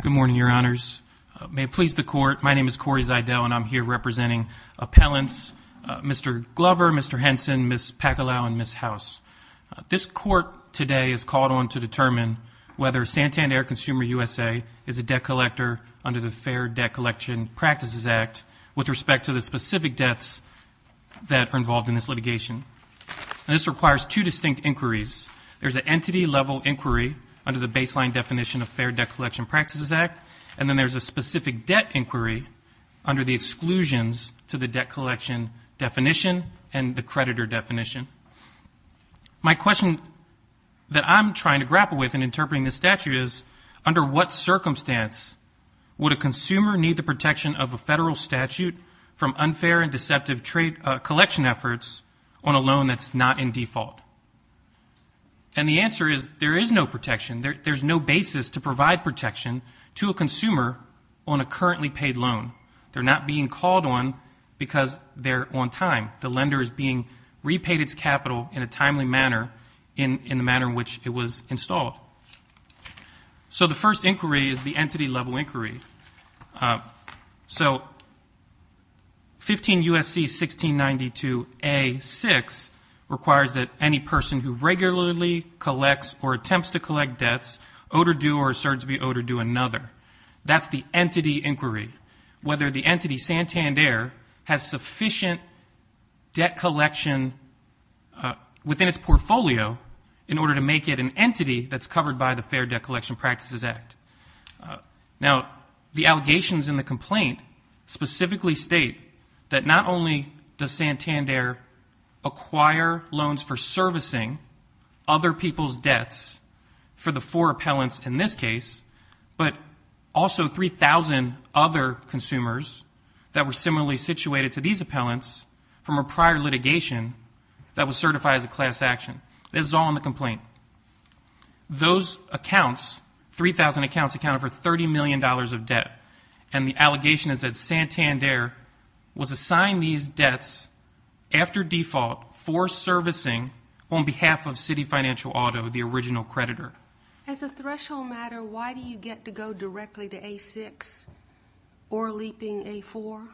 Good morning, Your Honors. May it please the Court, my name is Corey Zidell, and I'm here representing appellants Mr. Glover, Mr. Henson, Ms. Pacalao, and Ms. House. This Court today is called on to determine whether Santander Consumer USA is a debt collector under the Fair Debt Collection Practices Act with respect to the specific debts that are involved in this litigation. This requires two distinct inquiries. There's an entity-level inquiry under the baseline definition of Fair Debt Collection Practices Act, and then there's a specific debt inquiry under the exclusions to the debt collection definition and the creditor definition. My question that I'm trying to grapple with in interpreting this statute is, under what circumstance would a consumer need the protection of a federal statute from unfair and deceptive trade collection efforts on a loan that's not in default? And the answer is there is no basis to provide protection to a consumer on a currently paid loan. They're not being called on because they're on time. The lender is being repaid its capital in a timely manner, in the manner in which it was installed. So the first inquiry is the entity-level inquiry. So 15 U.S.C. 1692a6 requires that any person who regularly collects or attempts to collect debts owed or due or asserts to be owed or due another. That's the entity inquiry, whether the entity Santander has sufficient debt collection within its portfolio in order to make it an entity that's covered by the Fair Debt Collection Practices Act. Now, the allegations in the complaint specifically state that not only does it account for servicing other people's debts for the four appellants in this case, but also 3,000 other consumers that were similarly situated to these appellants from a prior litigation that was certified as a class action. This is all in the complaint. Those accounts, 3,000 accounts, accounted for $30 million of debt. And the allegation is that Santander was assigned these on behalf of Citi Financial Auto, the original creditor. As a threshold matter, why do you get to go directly to A6 or leaping A4?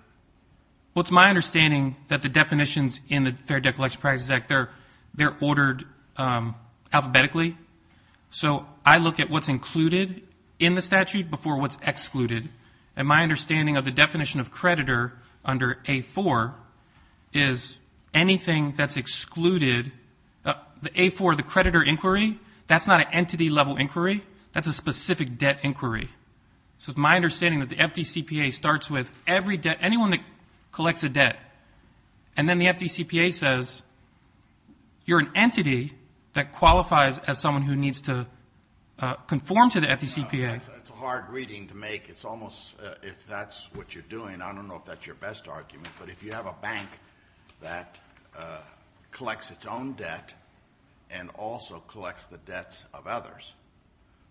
Well, it's my understanding that the definitions in the Fair Debt Collection Practices Act, they're ordered alphabetically. So I look at what's included in the statute before what's excluded. And my understanding of the definition of creditor under A4 is anything that's excluded. The A4, the creditor inquiry, that's not an entity-level inquiry. That's a specific debt inquiry. So it's my understanding that the FDCPA starts with every debt, anyone that collects a debt, and then the FDCPA says, you're an entity that qualifies as someone who needs to conform to the FDCPA. That's a hard reading to make. It's almost, if that's what you're doing, I don't know if that's your best argument, but if you have a bank that collects its own debt and also collects the debts of others,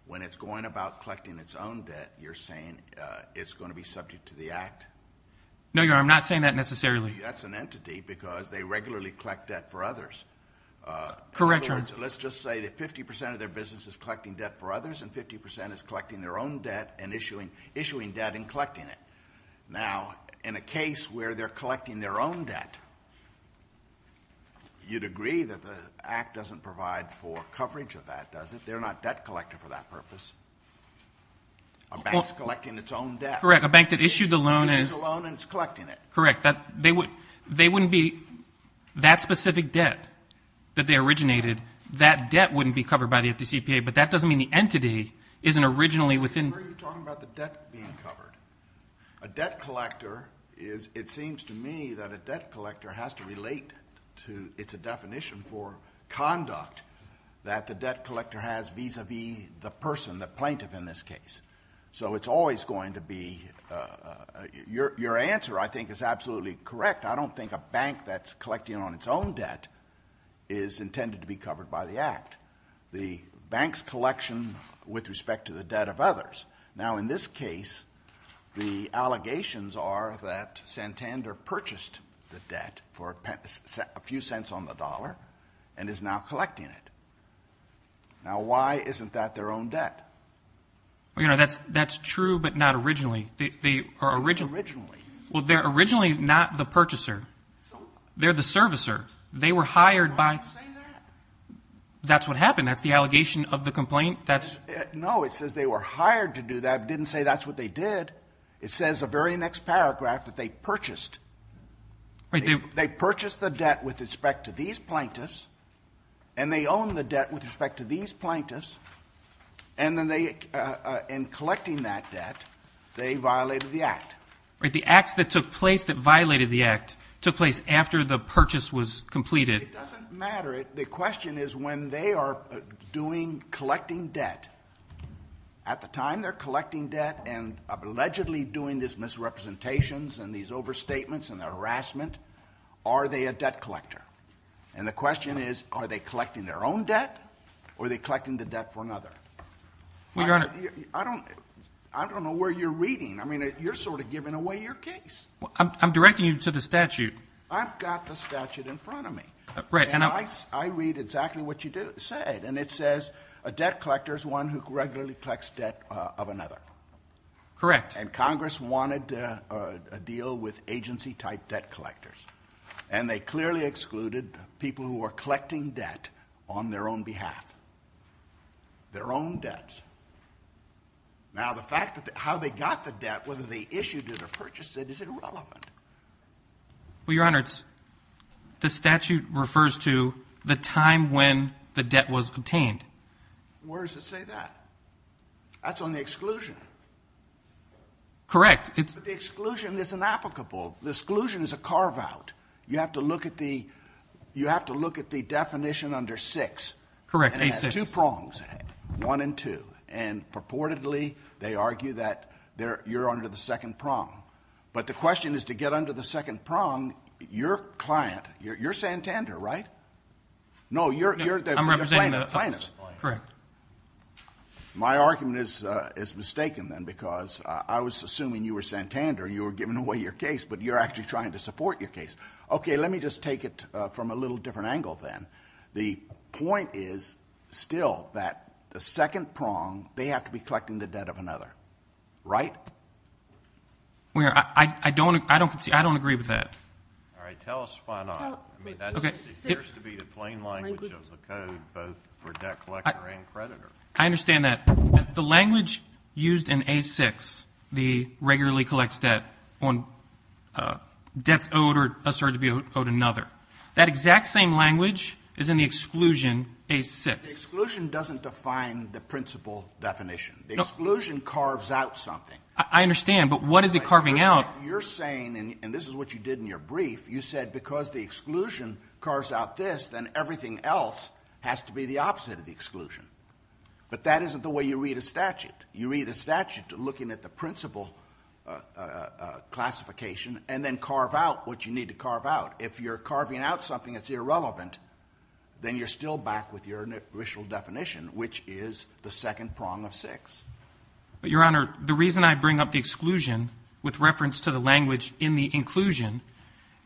when it's going about collecting its own debt, you're saying it's going to be subject to the act? No, Your Honor, I'm not saying that necessarily. That's an entity because they regularly collect debt for others. Correct, Your Honor. In other words, let's just say that 50 percent of their business is collecting debt for others, and 50 percent is collecting their own debt and issuing debt and collecting it. Now, in a case where they're collecting their own debt, you'd agree that the act doesn't provide for coverage of that, does it? They're not debt collector for that purpose. A bank's collecting its own debt. Correct. A bank that issued the loan and is collecting it. Correct. They wouldn't be, that specific debt that they originated, that debt wouldn't be covered by the FDCPA, but that doesn't mean the entity isn't originally within. Are you talking about the debt being covered? A debt collector is, it seems to me that a debt collector has to relate to, it's a definition for conduct that the debt collector has vis-a-vis the person, the plaintiff in this case. So it's always going to be, your answer, I think, is absolutely correct. I don't think a bank that's collecting on its own debt is intended to be covered by the act. The bank's collection with respect to the debt of others. Now, in this case, the allegations are that Santander purchased the debt for a few cents on the dollar and is now collecting it. Now, why isn't that their own debt? Well, you know, that's true, but not originally. Originally. Well, they're originally not the purchaser. They're the servicer. They were hired by... Why are you saying that? That's what happened. That's the allegation of the complaint. No, it says they were hired to do that. It didn't say that's what they did. It says the very next paragraph that they purchased. They purchased the debt with respect to these plaintiffs, and they own the debt with respect to these plaintiffs, and then in collecting that debt, they violated the act. The acts that took place that violated the act took place after the purchase was completed. It doesn't matter. The question is when they are doing collecting debt, at the time they're collecting debt and allegedly doing these misrepresentations and these overstatements and the harassment, are they a debt collector? And the question is, are they collecting their own debt, or are they collecting the debt for another? Your Honor... I don't know where you're reading. I mean, you're sort of giving away your case. I'm directing you to the statute. I've got the statute in front of me, and I read exactly what you said, and it says a debt collector is one who regularly collects debt of another. Correct. And Congress wanted a deal with agency-type debt collectors, and they clearly excluded people who were collecting debt on their own behalf. Their own debts. Now, the fact that how they got the debt, whether they issued it or purchased it, is irrelevant. Well, Your Honor, the statute refers to the time when the debt was obtained. Where does it say that? That's on the exclusion. Correct. But the exclusion is inapplicable. The exclusion is a carve-out. You have to look at the definition under 6. Correct, A6. It has two prongs, 1 and 2, and purportedly they argue that you're under the second prong. But the question is to get under the second prong, your client, you're Santander, right? No, you're the plaintiff. Correct. My argument is mistaken, then, because I was assuming you were Santander. You were giving away your case, but you're actually trying to support your case. Okay, let me just take it from a little different angle, then. The point is still that the second prong, they have to be collecting the debt of another, right? Well, Your Honor, I don't agree with that. All right, tell us why not. I mean, that appears to be the plain language of the code, both for debt collector and creditor. I understand that. The language used in A6, the regularly collects debt on debts owed or asserted to be owed another, that exact same language is in the exclusion, A6. The exclusion doesn't define the principle definition. The exclusion carves out something. I understand, but what is it carving out? You're saying, and this is what you did in your brief, you said because the exclusion carves out this, then everything else has to be the opposite of the exclusion. But that isn't the way you read a statute. You read a statute looking at the principle classification and then carve out what you need to carve out. If you're carving out something that's irrelevant, then you're still back with your initial definition, which is the second prong of 6. But, Your Honor, the reason I bring up the exclusion with reference to the language in the inclusion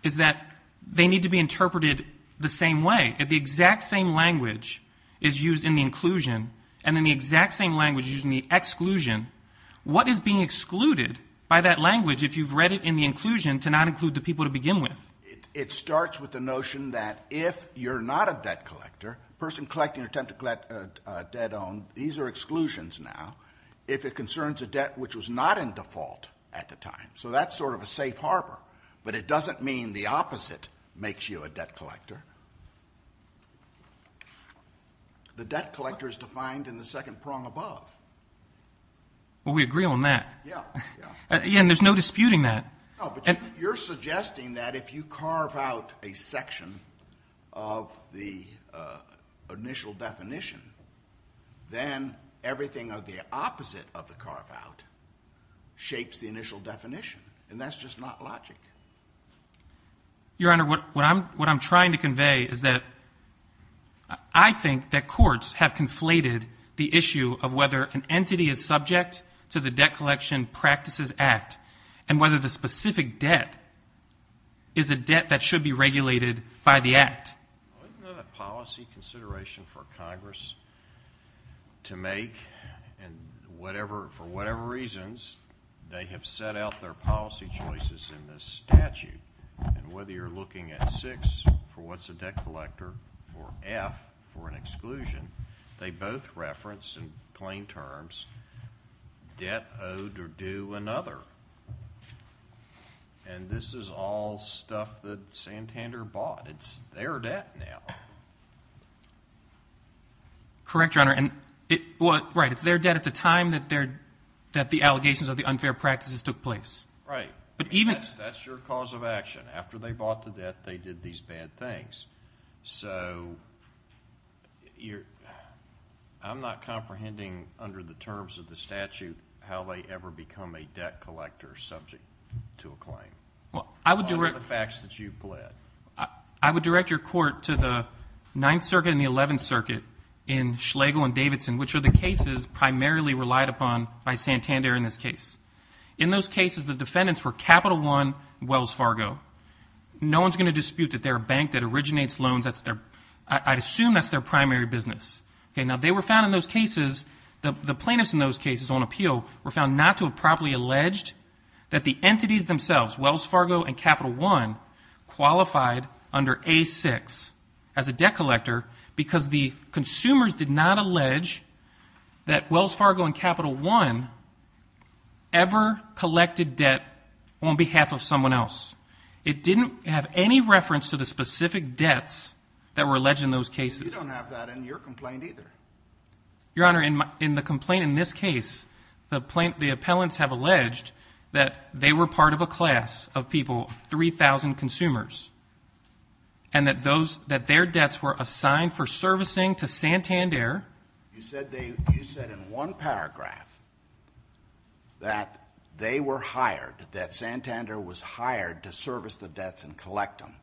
is that they need to be interpreted the same way. If the exact same language is used in the inclusion and then the exact same language is used in the exclusion, what is being excluded by that language if you've read it in the inclusion to not include the people to begin with? It starts with the notion that if you're not a debt collector, person collecting or attempting to collect debt on, these are exclusions now, if it concerns a debt which was not in default at the time. So that's sort of a safe harbor. But it doesn't mean the opposite makes you a debt collector. The debt collector is defined in the second prong above. Well, we agree on that. Yeah. Yeah, and there's no disputing that. No, but you're suggesting that if you carve out a section of the initial definition, then everything of the opposite of the carve out shapes the initial definition, and that's just not logic. Your Honor, what I'm trying to convey is that I think that courts have conflated the issue of whether an entity is subject to the Debt Collection Practices Act and whether the specific debt is a debt that should be regulated by the Act. Isn't that a policy consideration for Congress to make and for whatever reasons they have set out their policy choices in this statute? And whether you're looking at 6 for what's a debt collector or F for an exclusion, they both reference, in plain terms, debt owed or due another. And this is all stuff that Santander bought. It's their debt now. Correct, Your Honor. Right, it's their debt at the time that the allegations of the unfair practices took place. Right. That's your cause of action. After they bought the debt, they did these bad things. So I'm not comprehending under the terms of the statute how they ever become a debt collector subject to a claim. What are the facts that you've pled? I would direct your court to the Ninth Circuit and the Eleventh Circuit in Schlegel and Davidson, which are the cases primarily relied upon by Santander in this case. In those cases, the defendants were Capital One and Wells Fargo. No one's going to dispute that they're a bank that originates loans. I'd assume that's their primary business. Now, they were found in those cases, the plaintiffs in those cases on appeal, were found not to have properly alleged that the entities themselves, Wells Fargo and Capital One, qualified under A6 as a debt collector because the consumers did not allege that Wells Fargo and Capital One ever collected debt on behalf of someone else. It didn't have any reference to the specific debts that were alleged in those cases. You don't have that in your complaint either. Your Honor, in the complaint in this case, the appellants have alleged that they were part of a class of people, 3,000 consumers, and that their debts were assigned for servicing to Santander. You said in one paragraph that they were hired, that Santander was hired to service the debts and collect them.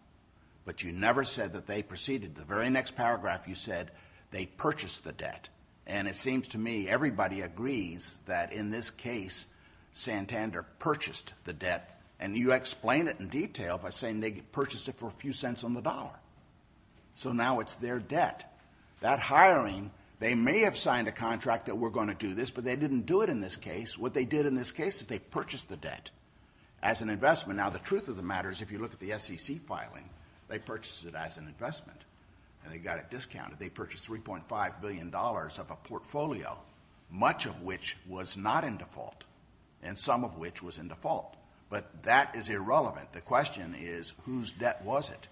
But you never said that they proceeded. The very next paragraph, you said they purchased the debt. And it seems to me everybody agrees that in this case, Santander purchased the debt. And you explain it in detail by saying they purchased it for a few cents on the dollar. So now it's their debt. That hiring, they may have signed a contract that we're going to do this, but they didn't do it in this case. What they did in this case is they purchased the debt as an investment. Now, the truth of the matter is if you look at the SEC filing, they purchased it as an investment. And they got it discounted. They purchased $3.5 billion of a portfolio, much of which was not in default, and some of which was in default. But that is irrelevant. The question is whose debt was it?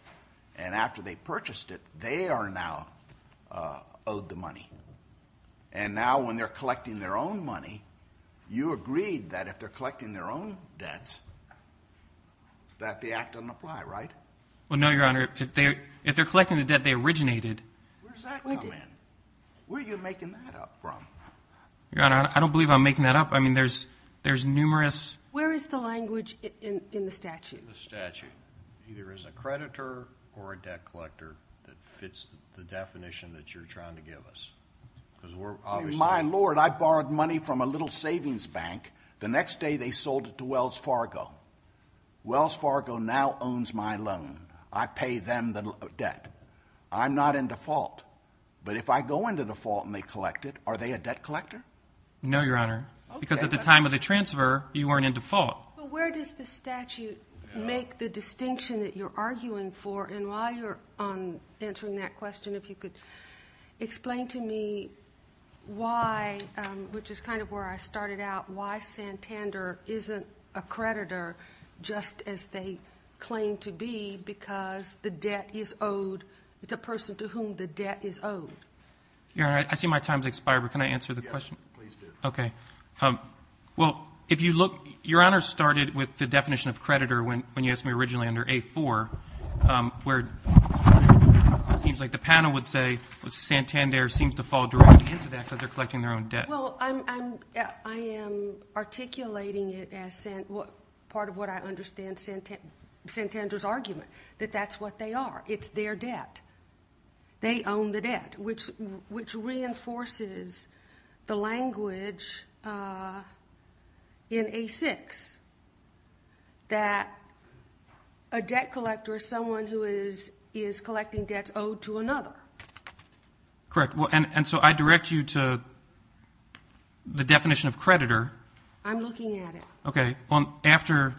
And after they purchased it, they are now owed the money. And now when they're collecting their own money, you agreed that if they're collecting their own debts, that the act doesn't apply, right? Well, no, Your Honor. If they're collecting the debt they originated. Where does that come in? Where are you making that up from? Your Honor, I don't believe I'm making that up. I mean, there's numerous. Where is the language in the statute? Either as a creditor or a debt collector that fits the definition that you're trying to give us. My Lord, I borrowed money from a little savings bank. The next day they sold it to Wells Fargo. Wells Fargo now owns my loan. I pay them the debt. I'm not in default. But if I go into default and they collect it, are they a debt collector? No, Your Honor, because at the time of the transfer, you weren't in default. Well, where does the statute make the distinction that you're arguing for? And while you're answering that question, if you could explain to me why, which is kind of where I started out, why Santander isn't a creditor just as they claim to be because the debt is owed. It's a person to whom the debt is owed. Your Honor, I see my time has expired, but can I answer the question? Yes, please do. Okay. Well, if you look, Your Honor started with the definition of creditor when you asked me originally under A-4, where it seems like the panel would say Santander seems to fall directly into that because they're collecting their own debt. Well, I am articulating it as part of what I understand Santander's argument, that that's what they are. It's their debt. They own the debt, which reinforces the language in A-6 that a debt collector is someone who is collecting debts owed to another. Correct. And so I direct you to the definition of creditor. I'm looking at it. Okay. Well, after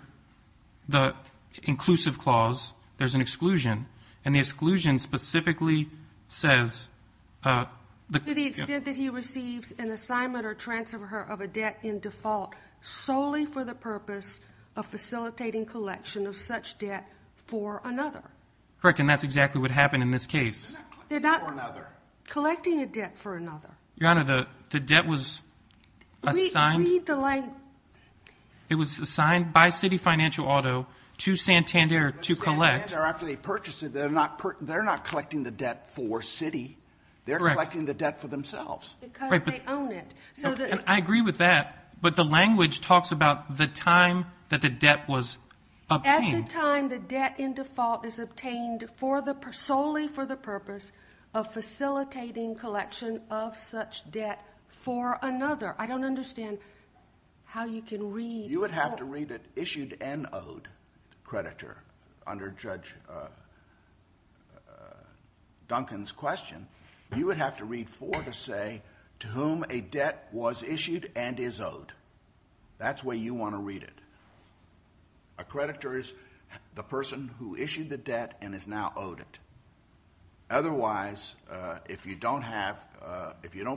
the inclusive clause, there's an exclusion, and the exclusion specifically says the- To the extent that he receives an assignment or transfer of a debt in default solely for the purpose of facilitating collection of such debt for another. Correct, and that's exactly what happened in this case. They're not collecting a debt for another. Your Honor, the debt was assigned- It was assigned by Citi Financial Auto to Santander to collect. Santander, after they purchased it, they're not collecting the debt for Citi. Correct. They're collecting the debt for themselves. Because they own it. I agree with that, but the language talks about the time that the debt was obtained. At the time the debt in default is obtained solely for the purpose of facilitating collection of such debt for another. I don't understand how you can read- You would have to read it issued and owed, creditor, under Judge Duncan's question. You would have to read for to say to whom a debt was issued and is owed. That's the way you want to read it. A creditor is the person who issued the debt and is now owed it. Otherwise, if you don't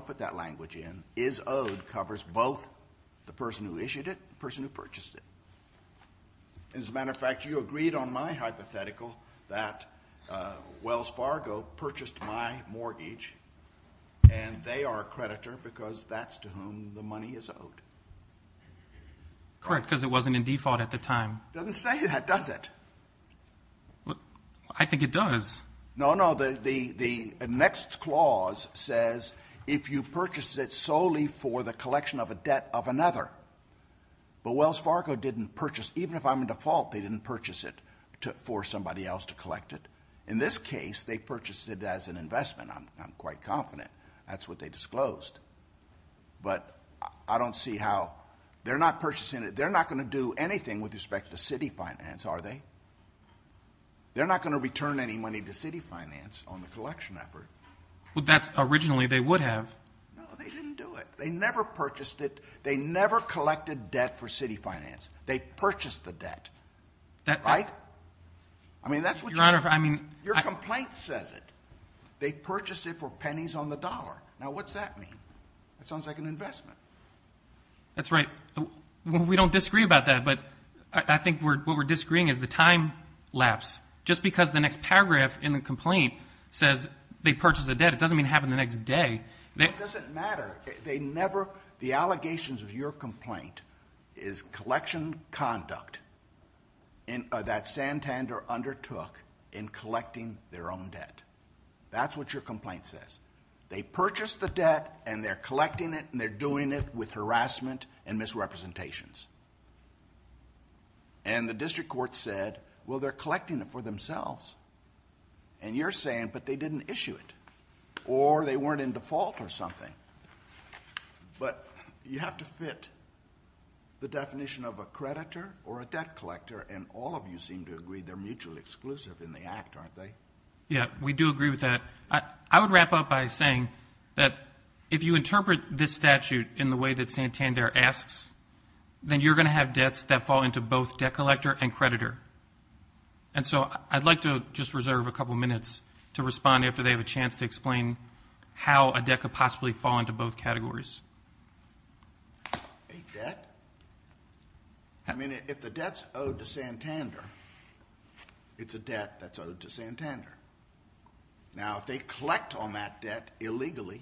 put that language in, is owed covers both the person who issued it and the person who purchased it. As a matter of fact, you agreed on my hypothetical that Wells Fargo purchased my mortgage, and they are a creditor because that's to whom the money is owed. Correct, because it wasn't in default at the time. It doesn't say that, does it? I think it does. No, no, the next clause says if you purchase it solely for the collection of a debt of another. But Wells Fargo didn't purchase, even if I'm in default, they didn't purchase it for somebody else to collect it. In this case, they purchased it as an investment, I'm quite confident. That's what they disclosed. But I don't see how, they're not purchasing it, they're not going to do anything with respect to city finance, are they? They're not going to return any money to city finance on the collection effort. Well, that's originally they would have. No, they didn't do it. They never purchased it. They never collected debt for city finance. They purchased the debt. Right? I mean, that's what your complaint says it. They purchased it for pennies on the dollar. Now, what's that mean? That sounds like an investment. That's right. We don't disagree about that, but I think what we're disagreeing is the time lapse. Just because the next paragraph in the complaint says they purchased the debt, it doesn't mean it happened the next day. It doesn't matter. They never, the allegations of your complaint is collection conduct that Santander undertook in collecting their own debt. That's what your complaint says. They purchased the debt, and they're collecting it, and they're doing it with harassment and misrepresentations. And the district court said, well, they're collecting it for themselves. And you're saying, but they didn't issue it, or they weren't in default or something. But you have to fit the definition of a creditor or a debt collector, and all of you seem to agree they're mutually exclusive in the act, aren't they? Yeah, we do agree with that. I would wrap up by saying that if you interpret this statute in the way that Santander asks, then you're going to have debts that fall into both debt collector and creditor. And so I'd like to just reserve a couple minutes to respond after they have a chance to explain how a debt could possibly fall into both categories. A debt? I mean, if the debt's owed to Santander, it's a debt that's owed to Santander. Now, if they collect on that debt illegally,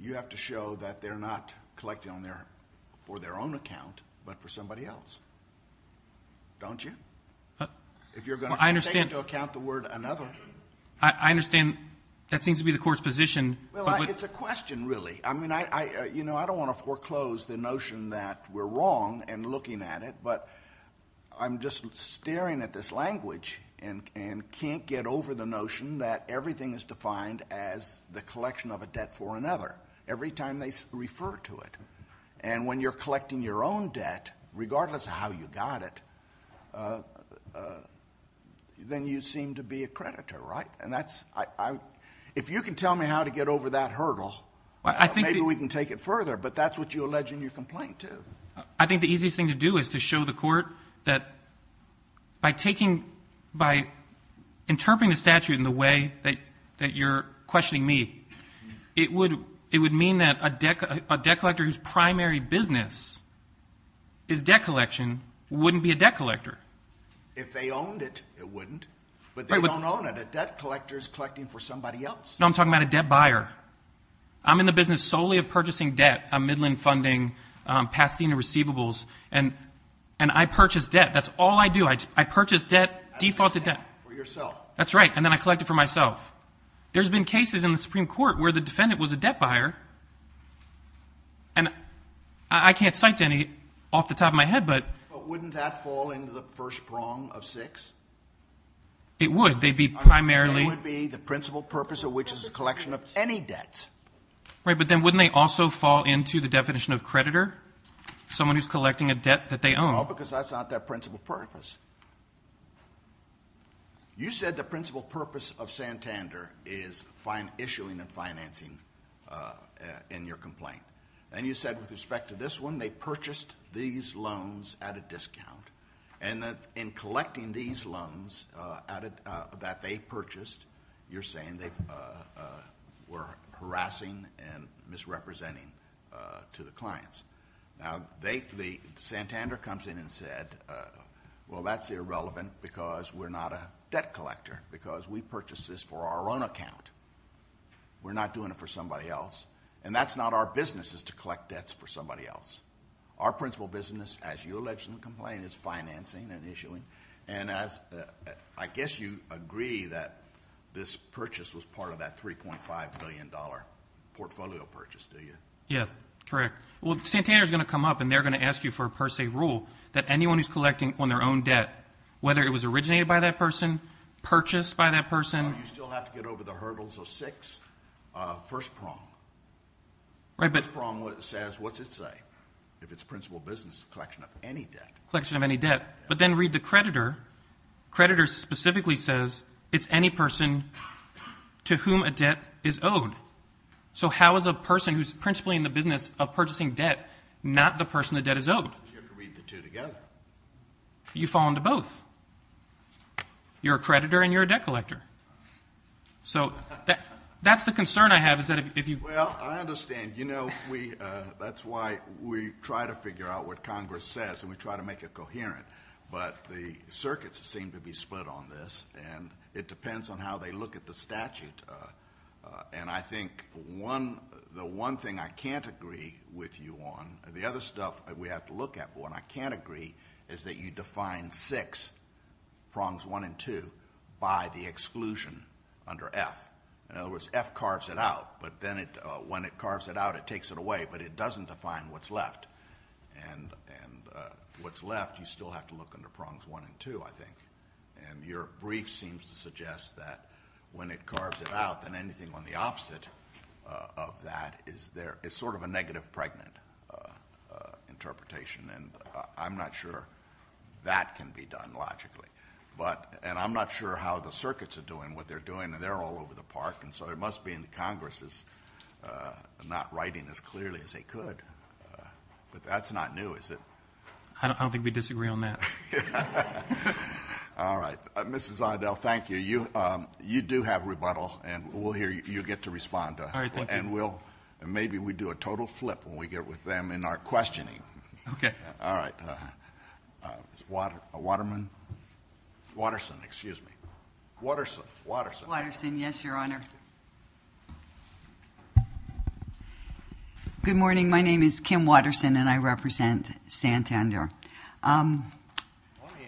you have to show that they're not collecting for their own account but for somebody else. Don't you? If you're going to take into account the word another. I understand that seems to be the court's position. Well, it's a question, really. I mean, I don't want to foreclose the notion that we're wrong in looking at it, but I'm just staring at this language and can't get over the notion that everything is defined as the collection of a debt for another every time they refer to it. And when you're collecting your own debt, regardless of how you got it, then you seem to be a creditor, right? If you can tell me how to get over that hurdle, maybe we can take it further. But that's what you allege in your complaint, too. I think the easiest thing to do is to show the court that by interpreting the statute in the way that you're questioning me, it would mean that a debt collector whose primary business is debt collection wouldn't be a debt collector. If they owned it, it wouldn't. But they don't own it. A debt collector is collecting for somebody else. No, I'm talking about a debt buyer. I'm in the business solely of purchasing debt. I'm Midland Funding, Pasadena Receivables, and I purchase debt. That's all I do. I purchase debt, defaulted debt. For yourself. That's right. And then I collect it for myself. There's been cases in the Supreme Court where the defendant was a debt buyer, and I can't cite any off the top of my head, but... But wouldn't that fall into the first prong of six? It would. They'd be primarily... It would be the principal purpose of which is the collection of any debt. Right, but then wouldn't they also fall into the definition of creditor, someone who's collecting a debt that they own? No, because that's not their principal purpose. You said the principal purpose of Santander is issuing and financing in your complaint. And you said with respect to this one, they purchased these loans at a discount. And in collecting these loans that they purchased, you're saying they were harassing and misrepresenting to the clients. Now, Santander comes in and said, well, that's irrelevant because we're not a debt collector. Because we purchase this for our own account. We're not doing it for somebody else. And that's not our business is to collect debts for somebody else. Our principal business, as you allege in the complaint, is financing and issuing. And I guess you agree that this purchase was part of that $3.5 billion portfolio purchase, do you? Yeah, correct. Well, Santander is going to come up and they're going to ask you for a per se rule that anyone who's collecting on their own debt, whether it was originated by that person, purchased by that person. You still have to get over the hurdles of six. First prong. Right, but... If it's principal business, collection of any debt. Collection of any debt. But then read the creditor. Creditor specifically says it's any person to whom a debt is owed. So how is a person who's principally in the business of purchasing debt not the person the debt is owed? You have to read the two together. You fall into both. You're a creditor and you're a debt collector. So that's the concern I have is that if you... We try to figure out what Congress says and we try to make it coherent, but the circuits seem to be split on this, and it depends on how they look at the statute. And I think the one thing I can't agree with you on, the other stuff that we have to look at, but what I can't agree is that you define six, prongs one and two, by the exclusion under F. In other words, F carves it out, but then when it carves it out, it takes it away, but it doesn't define what's left. And what's left, you still have to look under prongs one and two, I think. And your brief seems to suggest that when it carves it out, then anything on the opposite of that is sort of a negative pregnant interpretation, and I'm not sure that can be done logically. And I'm not sure how the circuits are doing what they're doing, and they're all over the park, and so it must be in the Congresses not writing as clearly as they could. But that's not new, is it? I don't think we disagree on that. All right. Mrs. Idell, thank you. You do have rebuttal, and we'll hear you get to respond. All right, thank you. And maybe we do a total flip when we get with them in our questioning. Okay. All right. Waterman? Watterson, excuse me. Watterson. Watterson, yes, Your Honor. Good morning. My name is Kim Watterson, and I represent Santander. Let me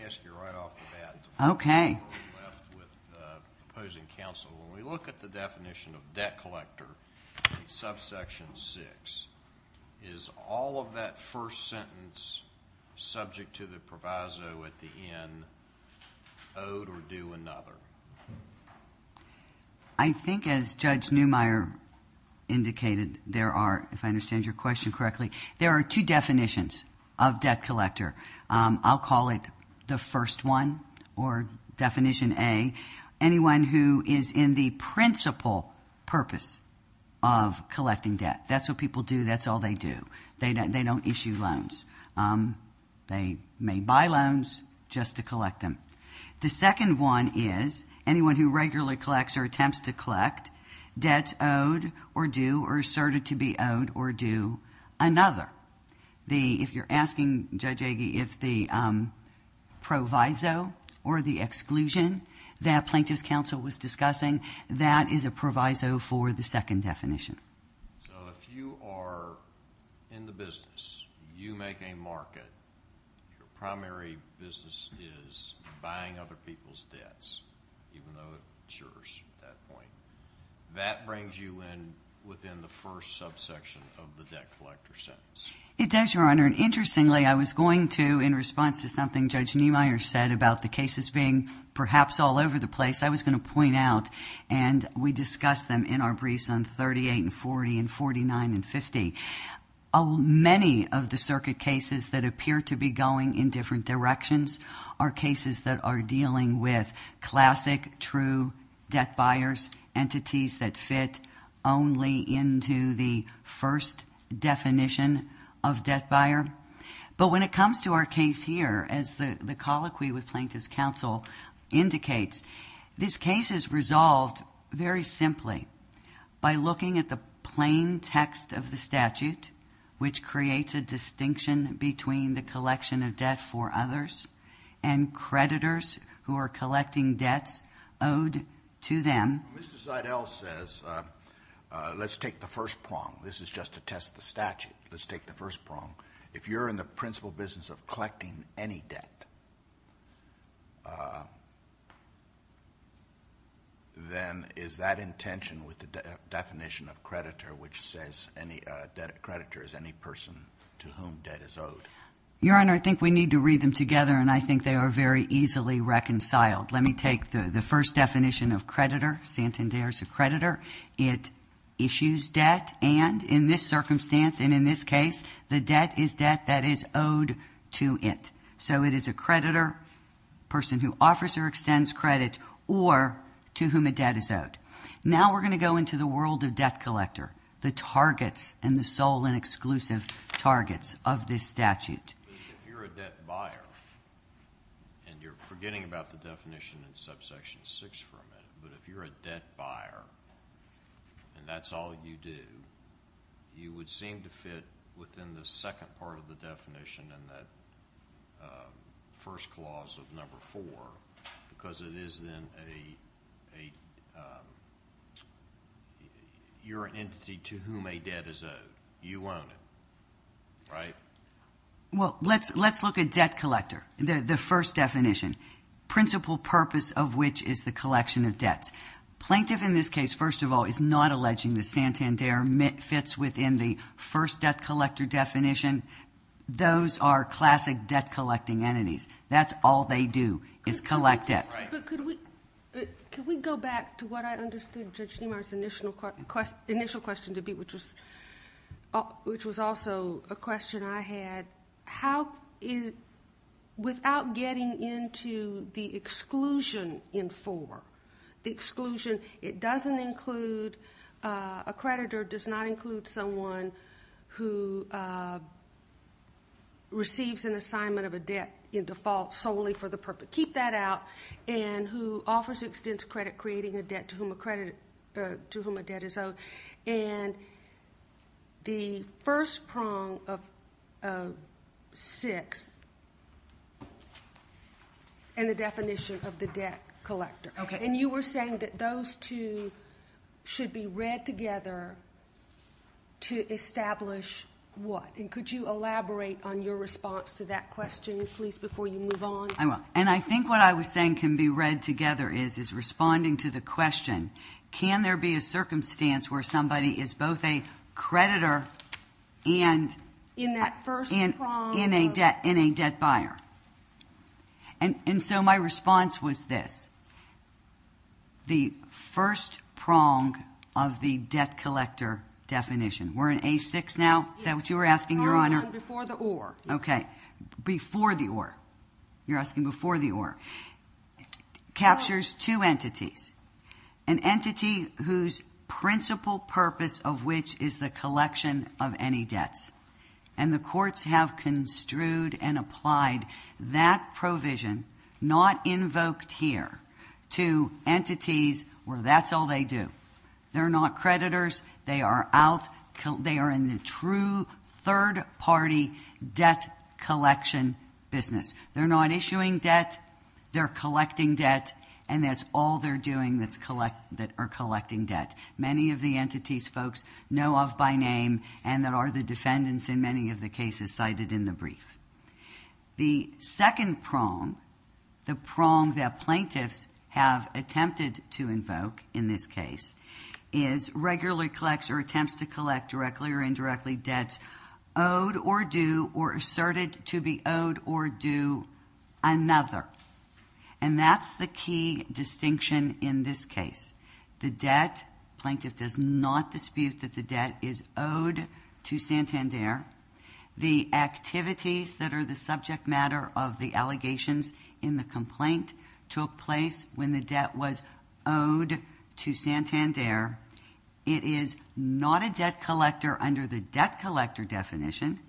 ask you right off the bat. Okay. With opposing counsel, when we look at the definition of debt collector in subsection 6, is all of that first sentence subject to the proviso at the end, owed or due another? I think as Judge Neumeier indicated, there are, if I understand your question correctly, there are two definitions of debt collector. I'll call it the first one, or definition A, anyone who is in the principal purpose of collecting debt. That's what people do. That's all they do. They don't issue loans. They may buy loans just to collect them. The second one is anyone who regularly collects or attempts to collect debts owed or due or asserted to be owed or due another. If you're asking Judge Agee if the proviso or the exclusion that Plaintiff's Counsel was discussing, that is a proviso for the second definition. If you are in the business, you make a market, your primary business is buying other people's debts, even though it insures at that point. That brings you in within the first subsection of the debt collector sentence. It does, Your Honor. Interestingly, I was going to, in response to something Judge Neumeier said about the cases being perhaps all over the place, I was going to point out, and we discussed them in our briefs on 38 and 40 and 49 and 50, many of the circuit cases that appear to be going in different directions are cases that are dealing with classic, true debt buyers, entities that fit only into the first definition of debt buyer. But when it comes to our case here, as the colloquy with Plaintiff's Counsel indicates, this case is resolved very simply by looking at the plain text of the statute, which creates a distinction between the collection of debt for others and creditors who are collecting debts owed to them. Mr. Seidel says, let's take the first prong. This is just to test the statute. Let's take the first prong. If you're in the principal business of collecting any debt, then is that in tension with the definition of creditor, which says any debt creditor is any person to whom debt is owed? Your Honor, I think we need to read them together, and I think they are very easily reconciled. Let me take the first definition of creditor. Santander is a creditor. It issues debt, and in this circumstance and in this case, the debt is debt that is owed to it. So it is a creditor, a person who offers or extends credit, or to whom a debt is owed. Now we're going to go into the world of debt collector, the targets and the sole and exclusive targets of this statute. If you're a debt buyer, and you're forgetting about the definition in subsection 6 for a minute, but if you're a debt buyer and that's all you do, you would seem to fit within the second part of the definition in that first clause of number 4 because it is then your entity to whom a debt is owed. You own it, right? Well, let's look at debt collector, the first definition, principal purpose of which is the collection of debts. Plaintiff in this case, first of all, is not alleging that Santander fits within the first debt collector definition. Those are classic debt collecting entities. That's all they do is collect debt. But could we go back to what I understood Judge Niemeyer's initial question to be, which was also a question I had. How is, without getting into the exclusion in 4, the exclusion, it doesn't include, a creditor does not include someone who receives an assignment of a debt in default solely for the purpose. Keep that out. And who offers or extends credit creating a debt to whom a debt is owed. And the first prong of 6 and the definition of the debt collector. Okay. And you were saying that those two should be read together to establish what? And could you elaborate on your response to that question, please, before you move on? I will. And I think what I was saying can be read together is, is responding to the question, can there be a circumstance where somebody is both a creditor and a debt buyer? And so my response was this. The first prong of the debt collector definition. We're in A6 now? Is that what you were asking, Your Honor? Before the or. Okay. Before the or. You're asking before the or. Captures two entities. An entity whose principal purpose of which is the collection of any debts. And the courts have construed and applied that provision, not invoked here, to entities where that's all they do. They're not creditors. They are out. They are in the true third party debt collection business. They're not issuing debt. They're collecting debt. And that's all they're doing that are collecting debt. Many of the entities folks know of by name, and that are the defendants in many of the cases cited in the brief. The second prong, the prong that plaintiffs have attempted to invoke in this case, is regularly collects or attempts to collect directly or indirectly debts owed or due or asserted to be owed or due another. And that's the key distinction in this case. The debt, plaintiff does not dispute that the debt is owed to Santander. The activities that are the subject matter of the allegations in the complaint took place when the debt was owed to Santander. It is not a debt collector under the debt collector definition.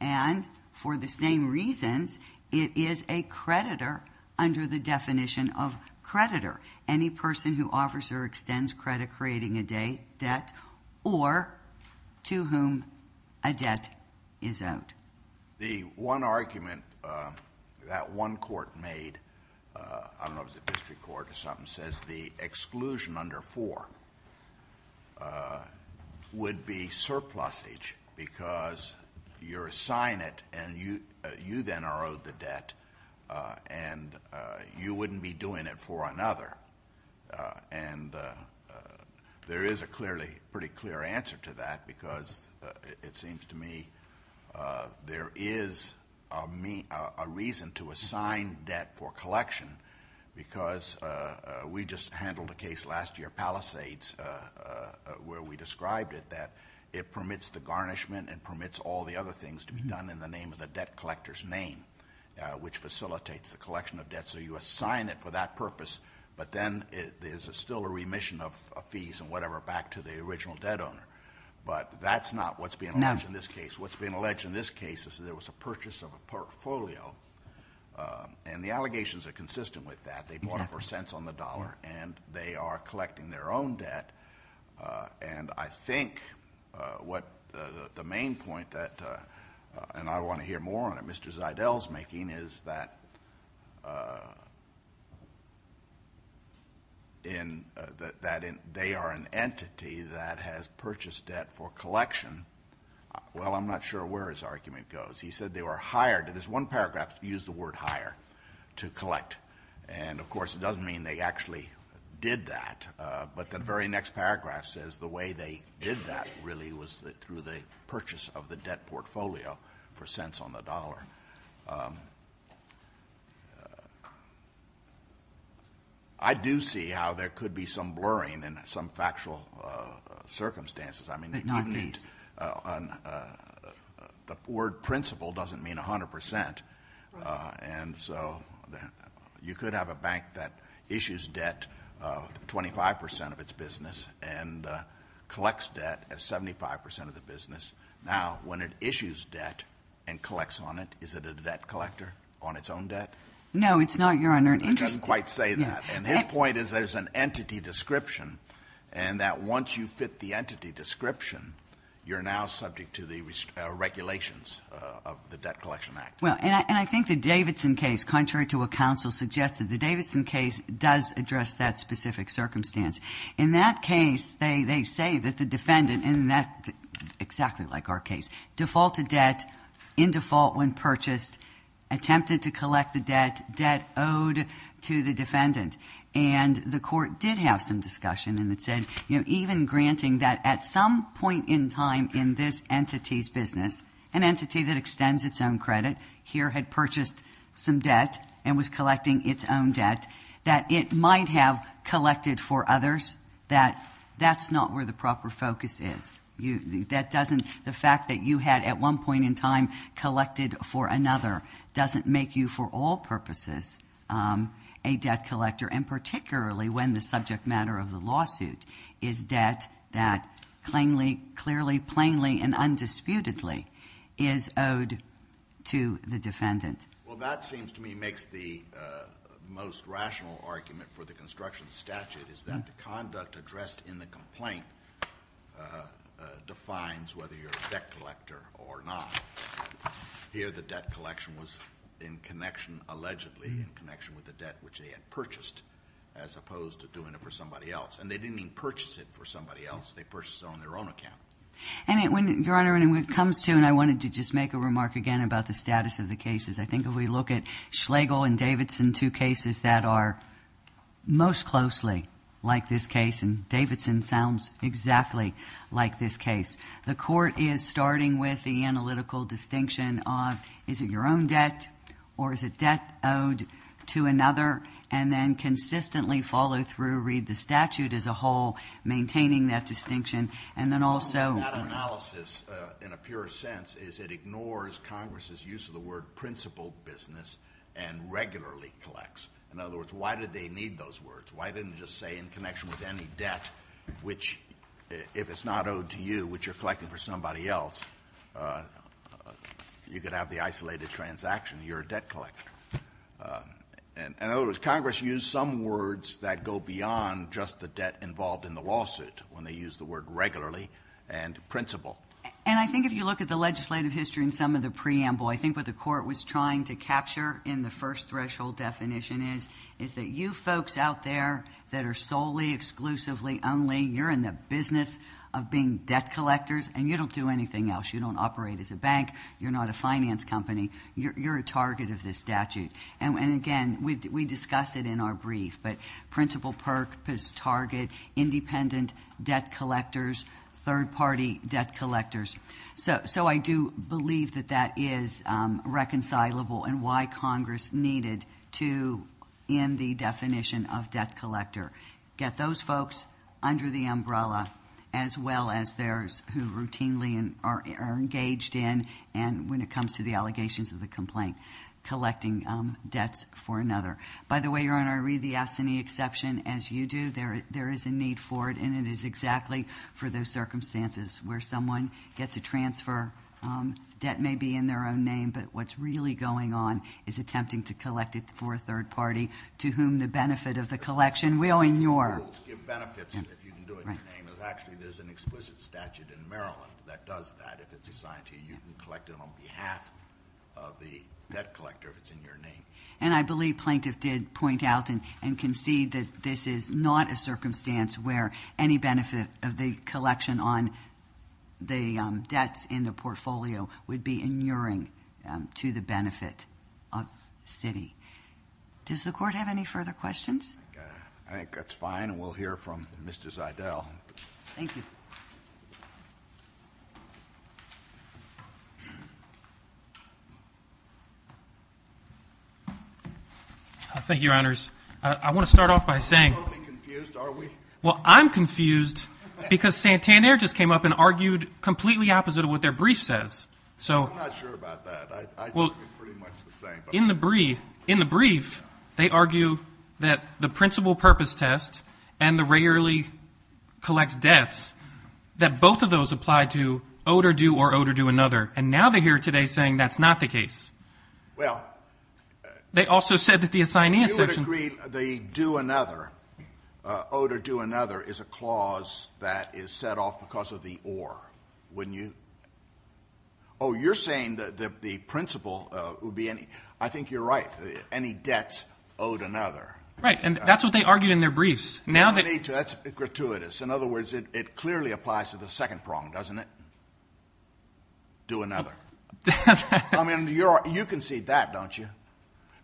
And for the same reasons, it is a creditor under the definition of creditor. Any person who offers or extends credit creating a debt or to whom a debt is owed. The one argument that one court made, I don't know if it was a district court or something, says the exclusion under four would be surplusage because you're assigned it and you then are owed the debt and you wouldn't be doing it for another. And there is a pretty clear answer to that because it seems to me there is a reason to assign debt for collection because we just handled a case last year, Palisades, where we described it, that it permits the garnishment and permits all the other things to be done in the name of the debt collector's name, which facilitates the collection of debt. So you assign it for that purpose, but then there's still a remission of fees and whatever back to the original debt owner. But that's not what's being alleged in this case. What's being alleged in this case is that there was a purchase of a portfolio. And the allegations are consistent with that. They bought it for cents on the dollar and they are collecting their own debt. And I think what the main point that, and I want to hear more on it, Mr. Zidell's making, is that they are an entity that has purchased debt for collection. Well, I'm not sure where his argument goes. He said they were hired. In this one paragraph, he used the word hire to collect. And, of course, it doesn't mean they actually did that. But the very next paragraph says the way they did that, really, was through the purchase of the debt portfolio for cents on the dollar. I do see how there could be some blurring in some factual circumstances. But not fees. The word principle doesn't mean 100%. And so you could have a bank that issues debt 25% of its business and collects debt at 75% of the business. Now, when it issues debt and collects on it, is it a debt collector on its own debt? No, it's not, Your Honor. It doesn't quite say that. And his point is there's an entity description, and that once you fit the entity description, you're now subject to the regulations of the Debt Collection Act. Well, and I think the Davidson case, contrary to what counsel suggested, the Davidson case does address that specific circumstance. In that case, they say that the defendant, and that's exactly like our case, defaulted debt in default when purchased, attempted to collect the debt, debt owed to the defendant. And the court did have some discussion, and it said, you know, even granting that at some point in time in this entity's business, an entity that extends its own credit, here had purchased some debt and was collecting its own debt, that it might have collected for others, that that's not where the proper focus is. That doesn't the fact that you had at one point in time collected for another doesn't make you for all purposes a debt collector, and particularly when the subject matter of the lawsuit is debt that clearly, plainly, and undisputedly is owed to the defendant. Well, that seems to me makes the most rational argument for the construction statute, is that the conduct addressed in the complaint defines whether you're a debt collector or not. Here, the debt collection was in connection, allegedly, in connection with the debt which they had purchased, as opposed to doing it for somebody else. And they didn't even purchase it for somebody else. They purchased it on their own account. And when, Your Honor, when it comes to, and I wanted to just make a remark again about the status of the cases, I think if we look at Schlegel and Davidson, two cases that are most closely like this case, and Davidson sounds exactly like this case, the court is starting with the analytical distinction of is it your own debt, or is it debt owed to another, and then consistently follow through, read the statute as a whole, maintaining that distinction, and then also… That analysis, in a pure sense, is it ignores Congress's use of the word principal business and regularly collects. In other words, why did they need those words? Why didn't it just say in connection with any debt, which if it's not owed to you, which you're collecting for somebody else, you could have the isolated transaction, you're a debt collector. In other words, Congress used some words that go beyond just the debt involved in the lawsuit when they used the word regularly and principal. And I think if you look at the legislative history and some of the preamble, I think what the court was trying to capture in the first threshold definition is that you folks out there that are solely, exclusively, only, you're in the business of being debt collectors, and you don't do anything else. You don't operate as a bank. You're not a finance company. You're a target of this statute. And again, we discuss it in our brief. But principal purpose, target, independent debt collectors, third-party debt collectors. So I do believe that that is reconcilable and why Congress needed to end the definition of debt collector. Get those folks under the umbrella as well as those who routinely are engaged in and when it comes to the allegations of the complaint, collecting debts for another. By the way, Your Honor, I read the ASINI exception. As you do, there is a need for it, and it is exactly for those circumstances where someone gets a transfer, debt may be in their own name, but what's really going on is attempting to collect it for a third party to whom the benefit of the collection will in your— It will give benefits if you can do it in your name. Actually, there's an explicit statute in Maryland that does that. If it's assigned to you, you can collect it on behalf of the debt collector if it's in your name. And I believe Plaintiff did point out and concede that this is not a circumstance where any benefit of the collection on the debts in the portfolio would be inuring to the benefit of Citi. Does the Court have any further questions? I think that's fine, and we'll hear from Mr. Zeidel. Thank you. Thank you, Your Honors. I want to start off by saying— We're totally confused, are we? Well, I'm confused because Santaner just came up and argued completely opposite of what their brief says. I'm not sure about that. I think they're pretty much the same. In the brief, they argue that the principal purpose test and the rarely collects debts, that both of those apply to owed or due or owed or due another. And now they're here today saying that's not the case. Well— They also said that the assignee assertion— You would agree the due another, owed or due another, is a clause that is set off because of the or, wouldn't you? Oh, you're saying that the principal would be any—I think you're right, any debts owed another. Right, and that's what they argued in their briefs. Now that— That's gratuitous. In other words, it clearly applies to the second prong, doesn't it? Due another. I mean, you can see that, don't you?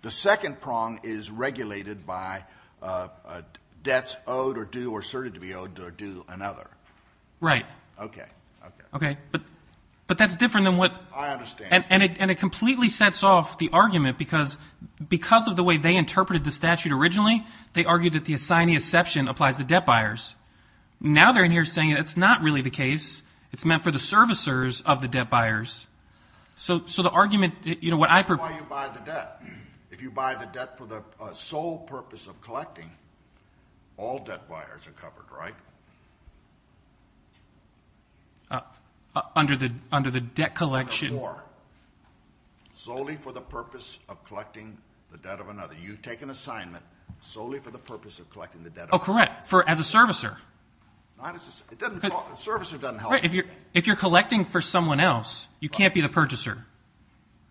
The second prong is regulated by debts owed or due or asserted to be owed or due another. Right. Okay, okay. Okay, but that's different than what— I understand. And it completely sets off the argument because of the way they interpreted the statute originally. They argued that the assignee assertion applies to debt buyers. Now they're in here saying it's not really the case. It's meant for the servicers of the debt buyers. So the argument— That's why you buy the debt. If you buy the debt for the sole purpose of collecting, all debt buyers are covered, right? Under the debt collection— Under the or. Solely for the purpose of collecting the debt of another. You take an assignment solely for the purpose of collecting the debt of another. Oh, correct. As a servicer. Not as a—a servicer doesn't help you. Right. If you're collecting for someone else, you can't be the purchaser.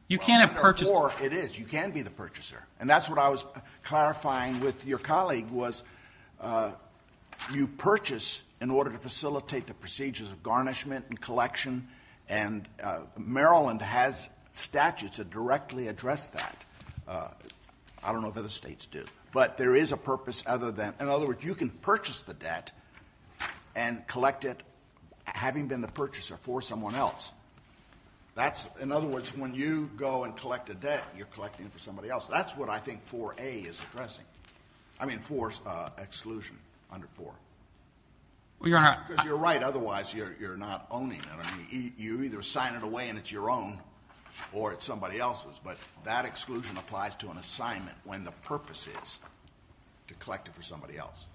You can't have purchased— Well, under or, it is. You can be the purchaser. And that's what I was clarifying with your colleague was you purchase in order to facilitate the procedures of garnishment and collection. And Maryland has statutes that directly address that. I don't know if other states do. But there is a purpose other than—in other words, you can purchase the debt and collect it having been the purchaser for someone else. That's—in other words, when you go and collect a debt, you're collecting it for somebody else. That's what I think 4A is addressing. I mean, 4's exclusion under 4. Well, Your Honor— Because you're right. Otherwise, you're not owning it. I mean, you either sign it away and it's your own or it's somebody else's. But that exclusion applies to an assignment when the purpose is to collect it for somebody else.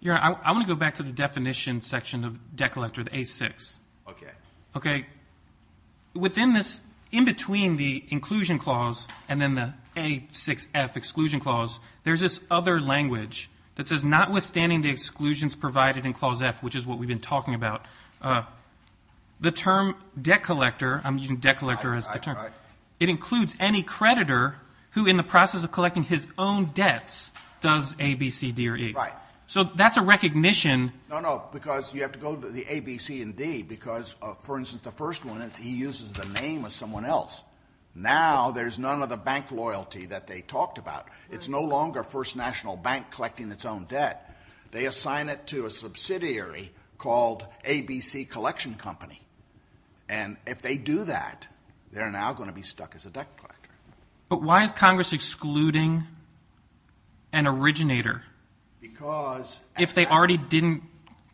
Your Honor, I want to go back to the definition section of debt collector, the A6. Okay. Okay. Within this—in between the inclusion clause and then the A6F exclusion clause, there's this other language that says, notwithstanding the exclusions provided in Clause F, which is what we've been talking about, the term debt collector—I'm using debt collector as the term. It includes any creditor who, in the process of collecting his own debts, does A, B, C, D, or E. Right. So that's a recognition— No, no, because you have to go to the A, B, C, and D because, for instance, the first one is he uses the name of someone else. Now there's none of the bank loyalty that they talked about. It's no longer First National Bank collecting its own debt. They assign it to a subsidiary called ABC Collection Company. And if they do that, they're now going to be stuck as a debt collector. But why is Congress excluding an originator? Because— If they already didn't—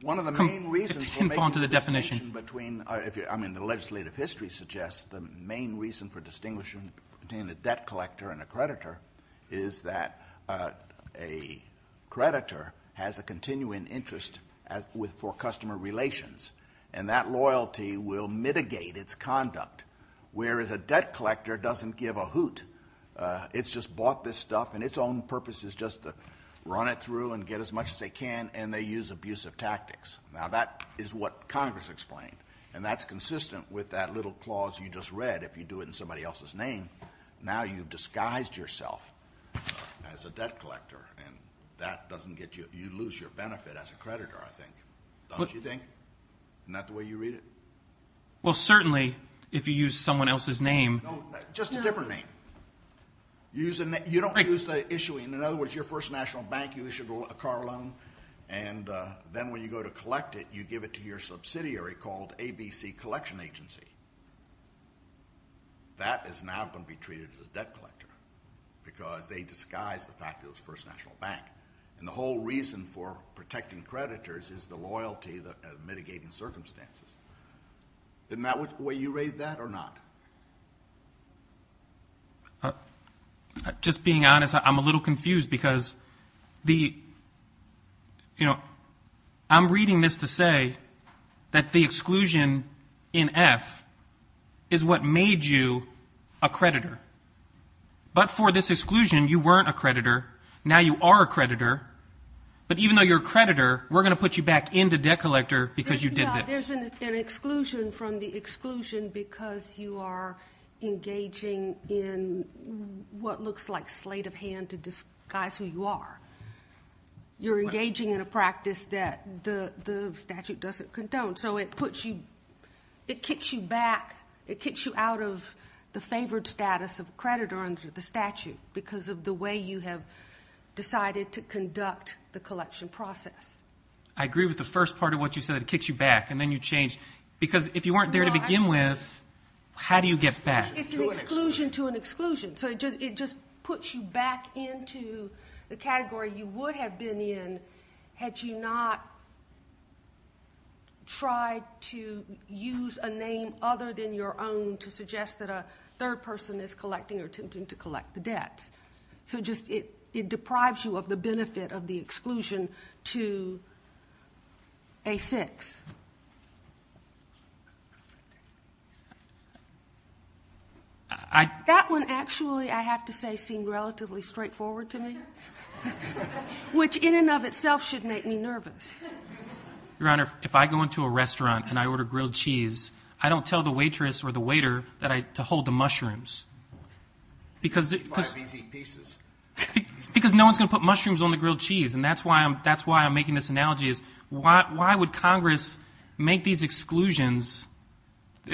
One of the main reasons for making the distinction between—I mean, the legislative history suggests the main reason for distinguishing between a debt collector and a creditor is that a creditor has a continuing interest for customer relations, and that loyalty will mitigate its conduct, whereas a debt collector doesn't give a hoot. It's just bought this stuff, and its own purpose is just to run it through and get as much as they can, and they use abusive tactics. Now that is what Congress explained, and that's consistent with that little clause you just read. If you do it in somebody else's name, now you've disguised yourself as a debt collector, and that doesn't get you—you lose your benefit as a creditor, I think. Don't you think? Isn't that the way you read it? Well, certainly, if you use someone else's name— No, just a different name. You don't use the issuing—in other words, your first national bank, you issue a car loan, and then when you go to collect it, you give it to your subsidiary called ABC Collection Agency. That is now going to be treated as a debt collector because they disguised the fact that it was the first national bank. And the whole reason for protecting creditors is the loyalty of mitigating circumstances. Isn't that the way you read that or not? Just being honest, I'm a little confused because the—you know, I'm reading this to say that the exclusion in F is what made you a creditor. But for this exclusion, you weren't a creditor. Now you are a creditor. But even though you're a creditor, we're going to put you back in the debt collector because you did this. There's an exclusion from the exclusion because you are engaging in what looks like slate of hand to disguise who you are. You're engaging in a practice that the statute doesn't condone. So it puts you—it kicks you back. It kicks you out of the favored status of creditor under the statute because of the way you have decided to conduct the collection process. I agree with the first part of what you said. It kicks you back, and then you change. Because if you weren't there to begin with, how do you get back? It's an exclusion to an exclusion. So it just puts you back into the category you would have been in had you not tried to use a name other than your own to suggest that a third person is collecting or attempting to collect the debts. So just—it deprives you of the benefit of the exclusion to A6. That one actually, I have to say, seemed relatively straightforward to me, which in and of itself should make me nervous. Your Honor, if I go into a restaurant and I order grilled cheese, I don't tell the waitress or the waiter to hold the mushrooms. Because no one's going to put mushrooms on the grilled cheese, and that's why I'm making this analogy. Why would Congress make these exclusions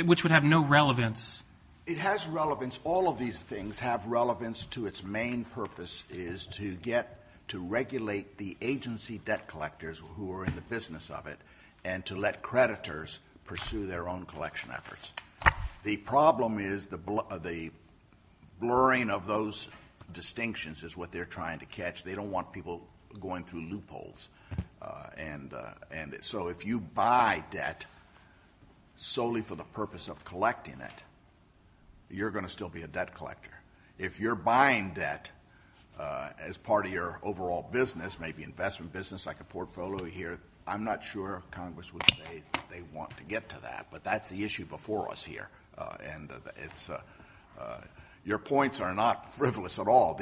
which would have no relevance? It has relevance. All of these things have relevance to its main purpose is to get to regulate the agency debt collectors who are in the business of it and to let creditors pursue their own collection efforts. The problem is the blurring of those distinctions is what they're trying to catch. They don't want people going through loopholes. And so if you buy debt solely for the purpose of collecting it, you're going to still be a debt collector. If you're buying debt as part of your overall business, maybe investment business like a portfolio here, I'm not sure Congress would say they want to get to that. But that's the issue before us here. Your points are not frivolous at all.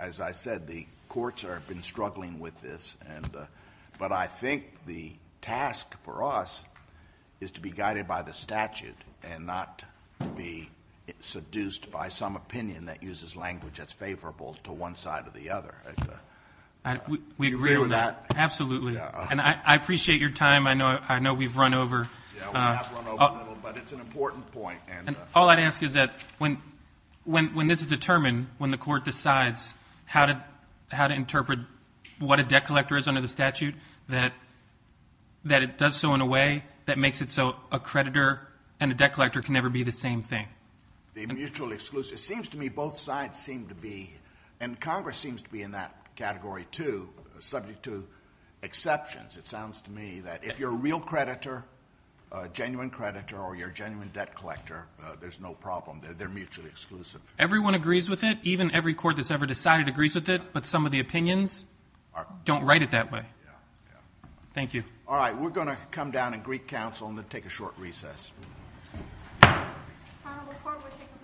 As I said, the courts have been struggling with this. But I think the task for us is to be guided by the statute and not be seduced by some opinion that uses language that's favorable to one side or the other. We agree with that. Absolutely. And I appreciate your time. I know we've run over. Yeah, we have run over a little, but it's an important point. And all I'd ask is that when this is determined, when the court decides how to interpret what a debt collector is under the statute, that it does so in a way that makes it so a creditor and a debt collector can never be the same thing. The mutually exclusive. It seems to me both sides seem to be, and Congress seems to be in that category, too, subject to exceptions. It sounds to me that if you're a real creditor, a genuine creditor, or you're a genuine debt collector, there's no problem. They're mutually exclusive. Everyone agrees with it. Even every court that's ever decided agrees with it. But some of the opinions don't write it that way. Yeah, yeah. Thank you. All right, we're going to come down and greet counsel and then take a short recess. The court will take a brief recess.